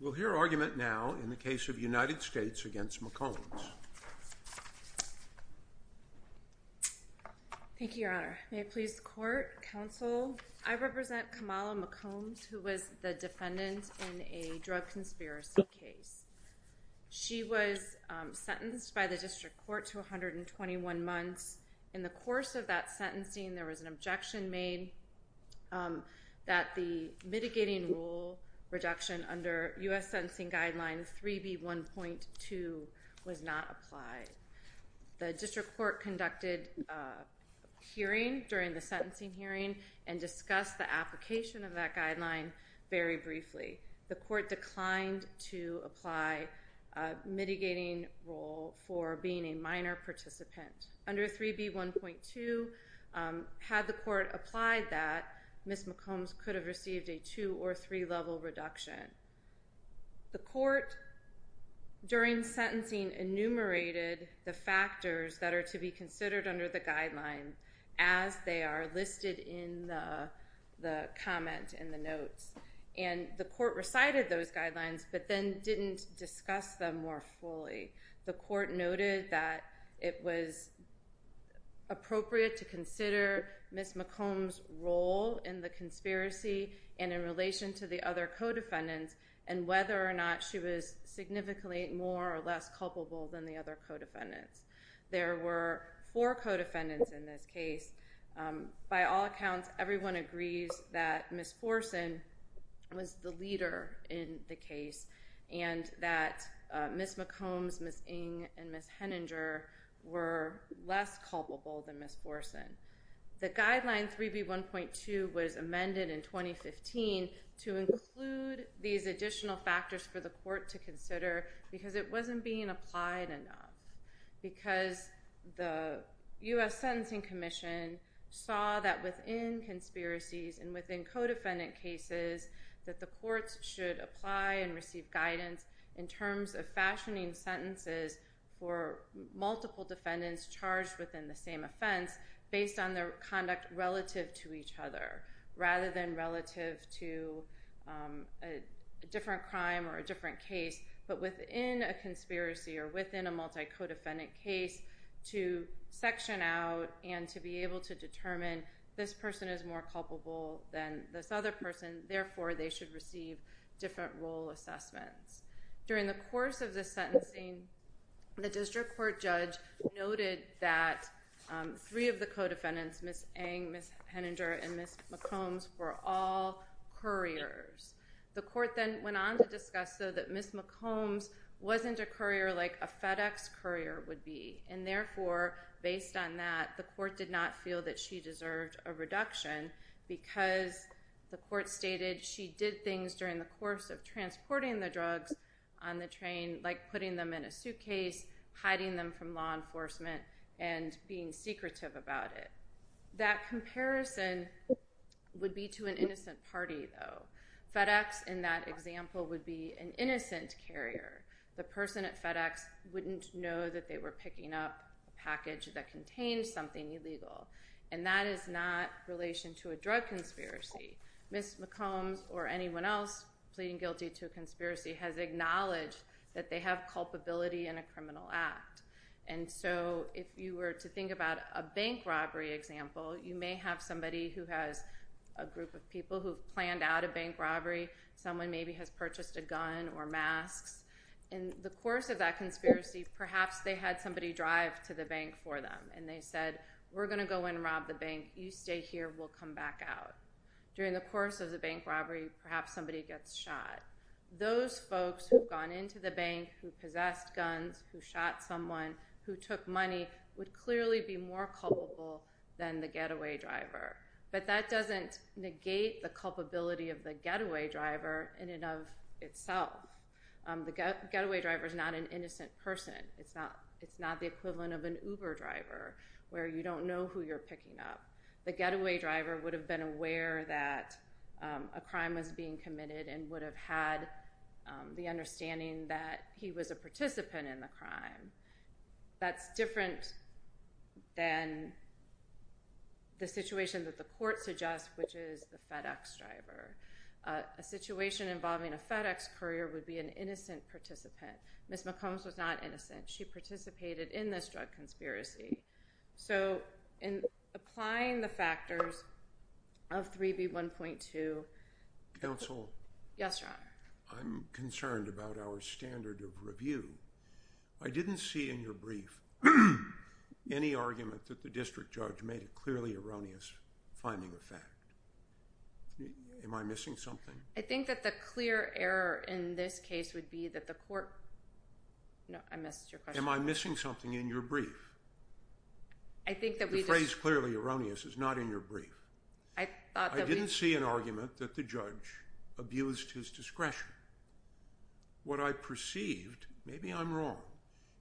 We'll hear argument now in the case of United States v. McCombs. Thank you, Your Honor. May it please the Court, Counsel, I represent Kamala McCombs, who was the defendant in a drug conspiracy case. She was sentenced by the District Court to 121 months. In the course of that sentencing, there was an objection made that the mitigating rule reduction under U.S. Sentencing Guideline 3B1.2 was not applied. The District Court conducted a hearing during the sentencing hearing and discussed the application of that guideline very briefly. The Court declined to apply a mitigating rule for being a minor participant. Under 3B1.2, had the Court applied that, Ms. McCombs could have received a two or three level reduction. The Court, during sentencing, enumerated the factors that are to be considered under the guidelines as they are listed in the comment in the notes. And the Court recited those guidelines, but then didn't discuss them more fully. The Court noted that it was appropriate to consider Ms. McCombs' role in the conspiracy and in relation to the other co-defendants and whether or not she was significantly more or less culpable than the other co-defendants. There were four co-defendants in this case. By all accounts, everyone agrees that Ms. Forsen was the leader in the case and that Ms. McCombs, Ms. Ng, and Ms. Henninger were less culpable than Ms. Forsen. The guideline 3B1.2 was amended in 2015 to include these additional factors for the Court to consider because it wasn't being applied enough. Because the U.S. Sentencing Commission saw that within conspiracies and within co-defendant cases that the Courts should apply and receive guidance in terms of fashioning sentences for multiple defendants charged within the same offense based on their conduct relative to each other rather than relative to a different crime or a different case, but within a conspiracy or within a multi-co-defendant case to section out and to be able to determine this person is more culpable than this other person, therefore they should receive different role assessments. During the course of this sentencing, the District Court judge noted that three of the co-defendants, Ms. Ng, Ms. Henninger, and Ms. McCombs, were all couriers. The Court then went on to discuss, though, that Ms. McCombs wasn't a courier like a FedEx courier would be, and therefore, based on that, the she did things during the course of transporting the drugs on the train like putting them in a suitcase, hiding them from law enforcement, and being secretive about it. That comparison would be to an innocent party, though. FedEx, in that example, would be an innocent carrier. The person at FedEx wouldn't know that they were picking up a package that contained something illegal. And that is not in relation to a drug conspiracy. Ms. McCombs or anyone else pleading guilty to a conspiracy has acknowledged that they have culpability in a criminal act. And so, if you were to think about a bank robbery example, you may have somebody who has a group of people who have planned out a bank robbery. Someone maybe has purchased a gun or masks. In the course of that conspiracy, perhaps they had somebody drive to the bank for them, and they said, we're going to go and rob the bank. You stay here. We'll come back out. During the course of the bank robbery, perhaps somebody gets shot. Those folks who have gone into the bank who possessed guns, who shot someone, who took money, would clearly be more culpable than the getaway driver. But that doesn't negate the culpability of the getaway driver in and of itself. The getaway driver is not an innocent person. It's not the equivalent of an Uber driver, where you don't know who you're picking up. The getaway driver would have been aware that a crime was being committed and would have had the understanding that he was a participant in the crime. That's different than the situation that the court suggests, which is the FedEx driver. A situation involving a FedEx courier would be an innocent participant. Ms. McCombs was not innocent. She participated in this drug conspiracy. So in applying the factors of 3B1.2... Counsel? Yes, Your Honor. I'm concerned about our standard of review. I didn't see in your brief any argument that the district judge made a clearly erroneous finding of fact. Am I missing something? I think that the clear error in this case would be that the court... I missed your question. Am I missing something in your brief? I think that we just... The phrase clearly erroneous is not in your brief. I thought that we... I didn't see an argument that the judge abused his discretion. What I perceived, maybe I'm wrong,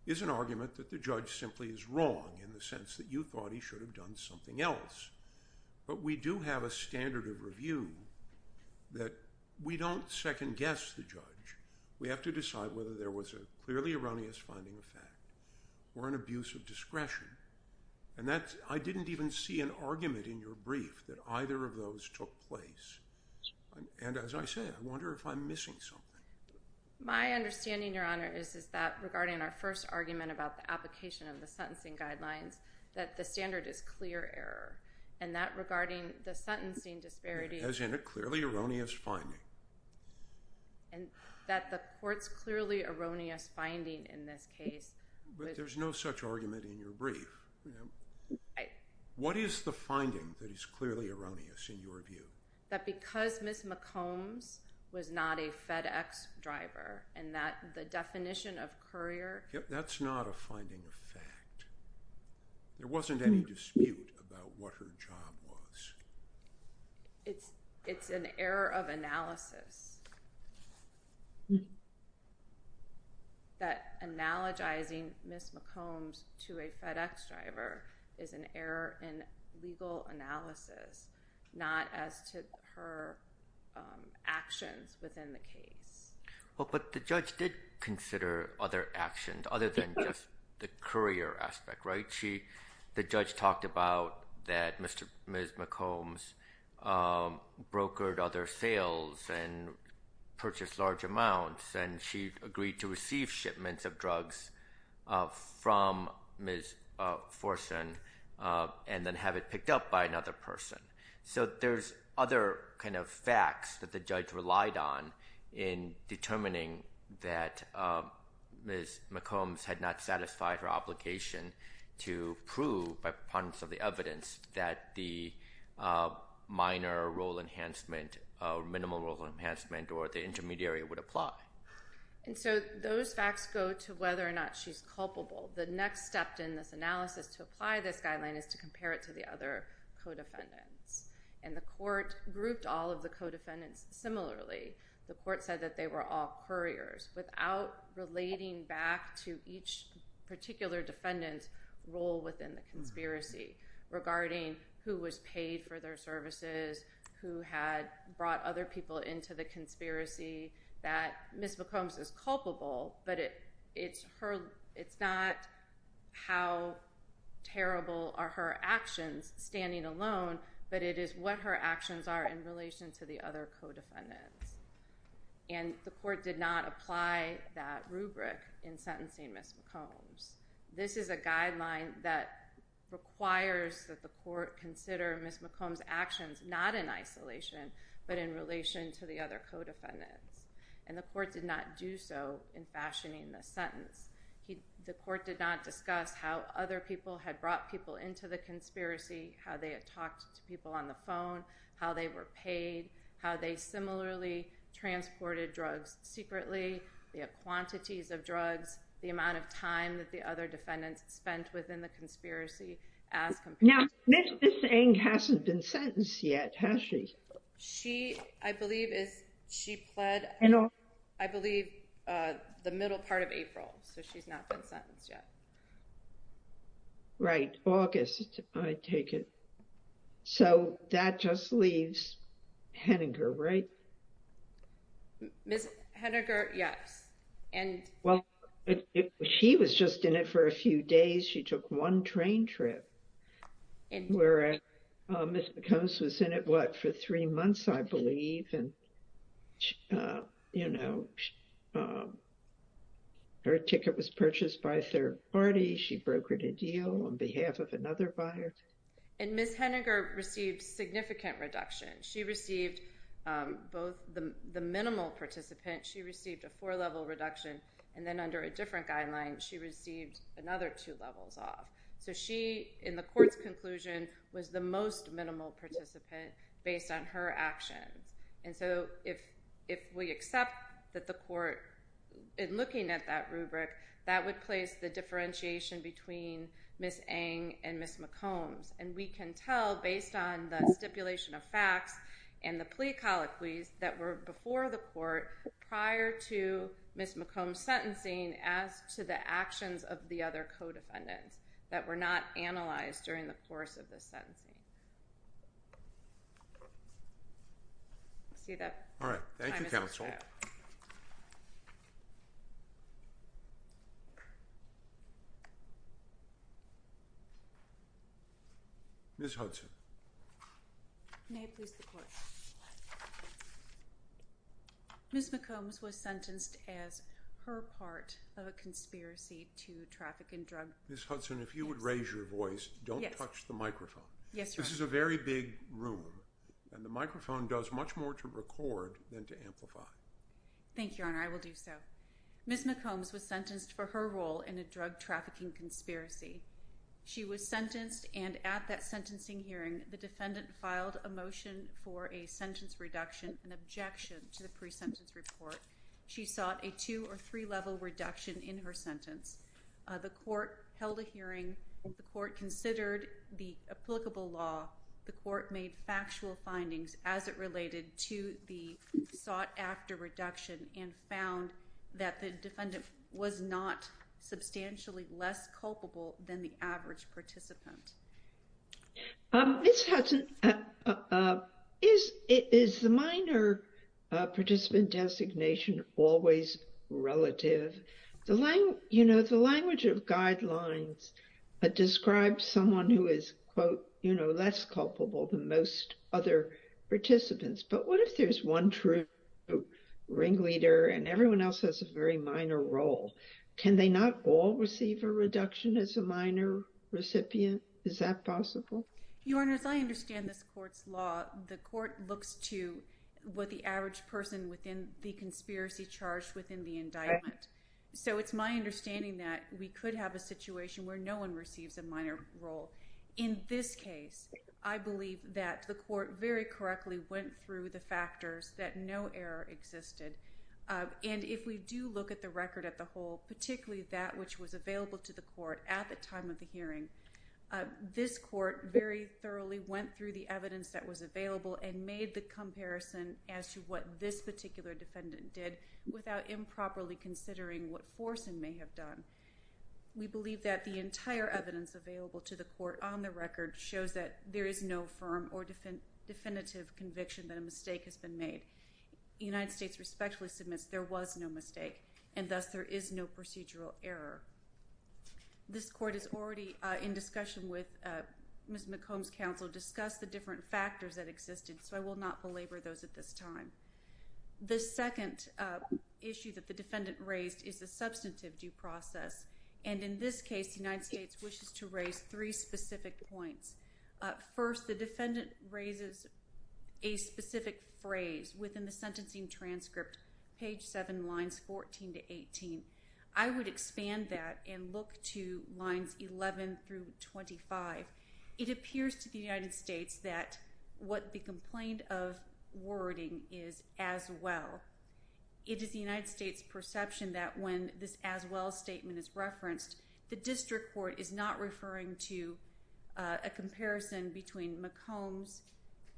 is an argument that the judge simply is wrong in the sense that you thought he should have done something else. But we do have a standard of review that we don't second-guess the judge. We have to decide whether there was a clearly erroneous finding of fact or an abuse of discretion. I didn't even see an argument in your brief that either of those took place. And as I said, I wonder if I'm missing something. My understanding, Your Honor, is that regarding our first argument about the application of the sentencing guidelines, that the standard is clear error. And that regarding the sentencing disparity... As in a clearly erroneous finding. And that the court's clearly erroneous finding in this case was... But there's no such argument in your brief. I... What is the finding that is clearly erroneous in your view? That because Ms. McCombs was not a FedEx driver and that the definition of courier... That's not a finding of fact. There wasn't any dispute about what her job was. It's an error of analysis that analogizing Ms. McCombs to a FedEx driver is an error in legal analysis, not as to her actions within the case. Well, but the judge did consider other actions other than just the courier aspect, right? She... The judge talked about that Ms. McCombs brokered other sales and purchased large amounts and she agreed to receive shipments of drugs from Ms. Forsen and then have it picked up by another person. So there's other kind of facts that the judge relied on in determining that Ms. McCombs had not satisfied her obligation to prove by proponents of the evidence that the minor role enhancement or minimal role enhancement or the intermediary would apply. And so those facts go to whether or not she's culpable. The next step in this analysis to apply this guideline is to compare it to the other co-defendants. And the court grouped all of the co-defendants similarly. The court said that they were all couriers without relating back to each particular defendant's role within the conspiracy regarding who was paid for their services, who had brought other people into the conspiracy, that Ms. McCombs is culpable but it's not how terrible are her actions standing alone but it is what her actions are in relation to the other co-defendants. And the court did not apply that rubric in sentencing Ms. McCombs. This is a guideline that requires that the court consider Ms. McCombs' actions not in isolation but in relation to the other co-defendants. And the court did not do so in fashioning the sentence. The court did not discuss how other people had brought people into the conspiracy, how they had talked to people on the phone, how they were paid, how they similarly transported drugs secretly, the quantities of drugs, the amount of time that the other defendants spent within the conspiracy as compared to Ms. McCombs. I believe the middle part of April, so she's not been sentenced yet. Right. August, I take it. So that just leaves Henninger, right? Ms. Henninger, yes. Well, she was just in it for a few days. She took one train trip. Ms. McCombs was in it, what, for three months, I believe. Her ticket was purchased by a third party. She brokered a deal on behalf of another buyer. And Ms. Henninger received significant reduction. She received both the minimal participant, she received a four-level reduction, and then under a different guideline, she received another two levels off. So she, in the court's conclusion, was the most minimal participant based on her actions. And so if we accept that the court, in looking at that rubric, that would place the differentiation between Ms. Eng and Ms. McCombs. And we can tell, based on the stipulation of facts and the plea colloquies that were before the court prior to Ms. McCombs' sentencing as to the actions of the other co-defendants that were not analyzed during the course of the sentencing. I see that time is up. All right. Thank you, counsel. May it please the court. Ms. McCombs was sentenced as her part of a conspiracy to traffic and drug trafficking. Ms. Hudson, if you would raise your voice, don't touch the microphone. Yes, Your Honor. This is a very big room, and the microphone does much more to record than to amplify. Thank you, Your Honor. I will do so. Ms. McCombs was sentenced for her role in a drug trafficking conspiracy. She was sentenced, and at that sentencing hearing, the defendant filed a motion for a sentence reduction and objection to the pre-sentence report. She sought a two- or three-level reduction in her sentence. The court held a hearing. The court considered the applicable law. The court made factual findings as it related to the sought-after reduction and found that the defendant was not substantially less culpable than the average participant. Ms. Hudson, is the minor participant designation always relative? You know, the language of guidelines describes someone who is, quote, you know, less culpable than most other participants. But what if there's one true ringleader and everyone else has a very minor role? Can they not all receive a reduction as a minor recipient? Is that possible? Your Honor, as I understand this court's law, the court looks to what the average person within the conspiracy charged within the indictment. So it's my understanding that we could have a situation where no one receives a minor role. In this case, I believe that the court very correctly went through the factors that no error existed. And if we do look at the record at the whole, particularly that which was available to the court at the time of the hearing, this court very thoroughly went through the evidence that was available and made the comparison as to what this particular defendant did without improperly considering what forcing may have done. We believe that the entire evidence available to the court on the record shows that there is no firm or definitive conviction that a mistake has been made. The United States respectfully submits there was no mistake, and thus there is no procedural error. This court is already in discussion with Ms. McComb's counsel to discuss the different factors that existed, so I will not belabor those at this time. The second issue that the defendant raised is the substantive due process. And in this case, the United States wishes to raise three specific points. First, the defendant raises a specific phrase within the sentencing transcript, page 7, lines 14 to 18. I would expand that and look to lines 11 through 25. It appears to the United States that what the complaint of wording is as well. It is the United States' perception that when this as well statement is referenced, the district court is not referring to a comparison between McComb's,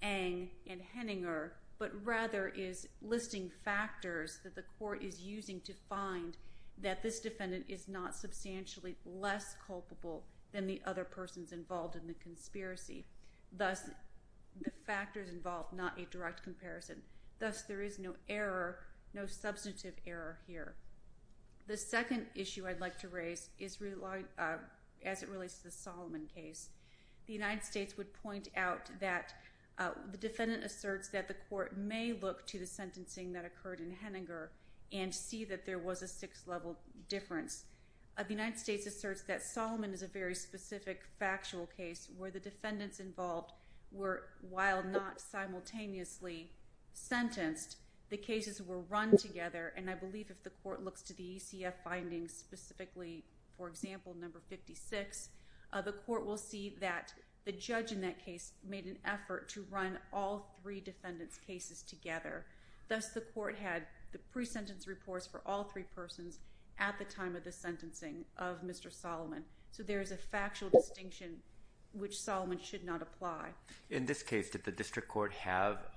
Eng, and Henninger, but rather is listing factors that the court is using to find that this defendant is not substantially less culpable than the other persons involved in the conspiracy. Thus, the factors involved, not a direct comparison. Thus, there is no error, no substantive error here. The second issue I'd like to raise is as it relates to the Solomon case. The United States would point out that the defendant asserts that the court may look to the sentencing that occurred in Henninger and see that there was a sixth-level difference. The United States asserts that Solomon is a very specific factual case where the defendants involved were, while not simultaneously sentenced, the cases were run together, and I believe if the court looks to the ECF findings specifically, for example, number 56, the court will see that the judge in that case made an effort to run all three defendants' cases together. Thus, the court had the pre-sentence reports for all three persons at the time of the sentencing of Mr. Solomon. So there is a factual distinction which Solomon should not apply. In this case, did the district court have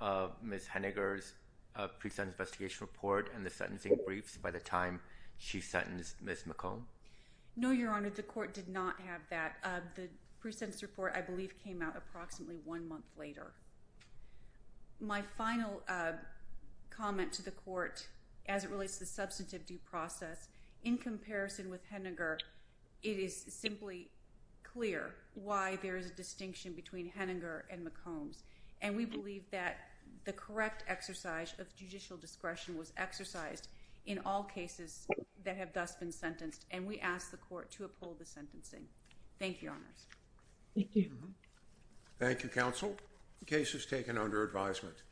Ms. Henninger's pre-sentence investigation report and the sentencing briefs by the time she sentenced Ms. McComb? No, Your Honor. The court did not have that. The pre-sentence report, I believe, came out approximately one month later. My final comment to the court as it relates to the substantive due process, in comparison with Henninger, it is simply clear why there is a distinction between Henninger and McCombs, and we believe that the correct exercise of judicial discretion was exercised in all cases that have thus been sentenced, and we ask the court to uphold the sentencing. Thank you, Your Honors. Thank you. Thank you, counsel. The case is taken under advisement.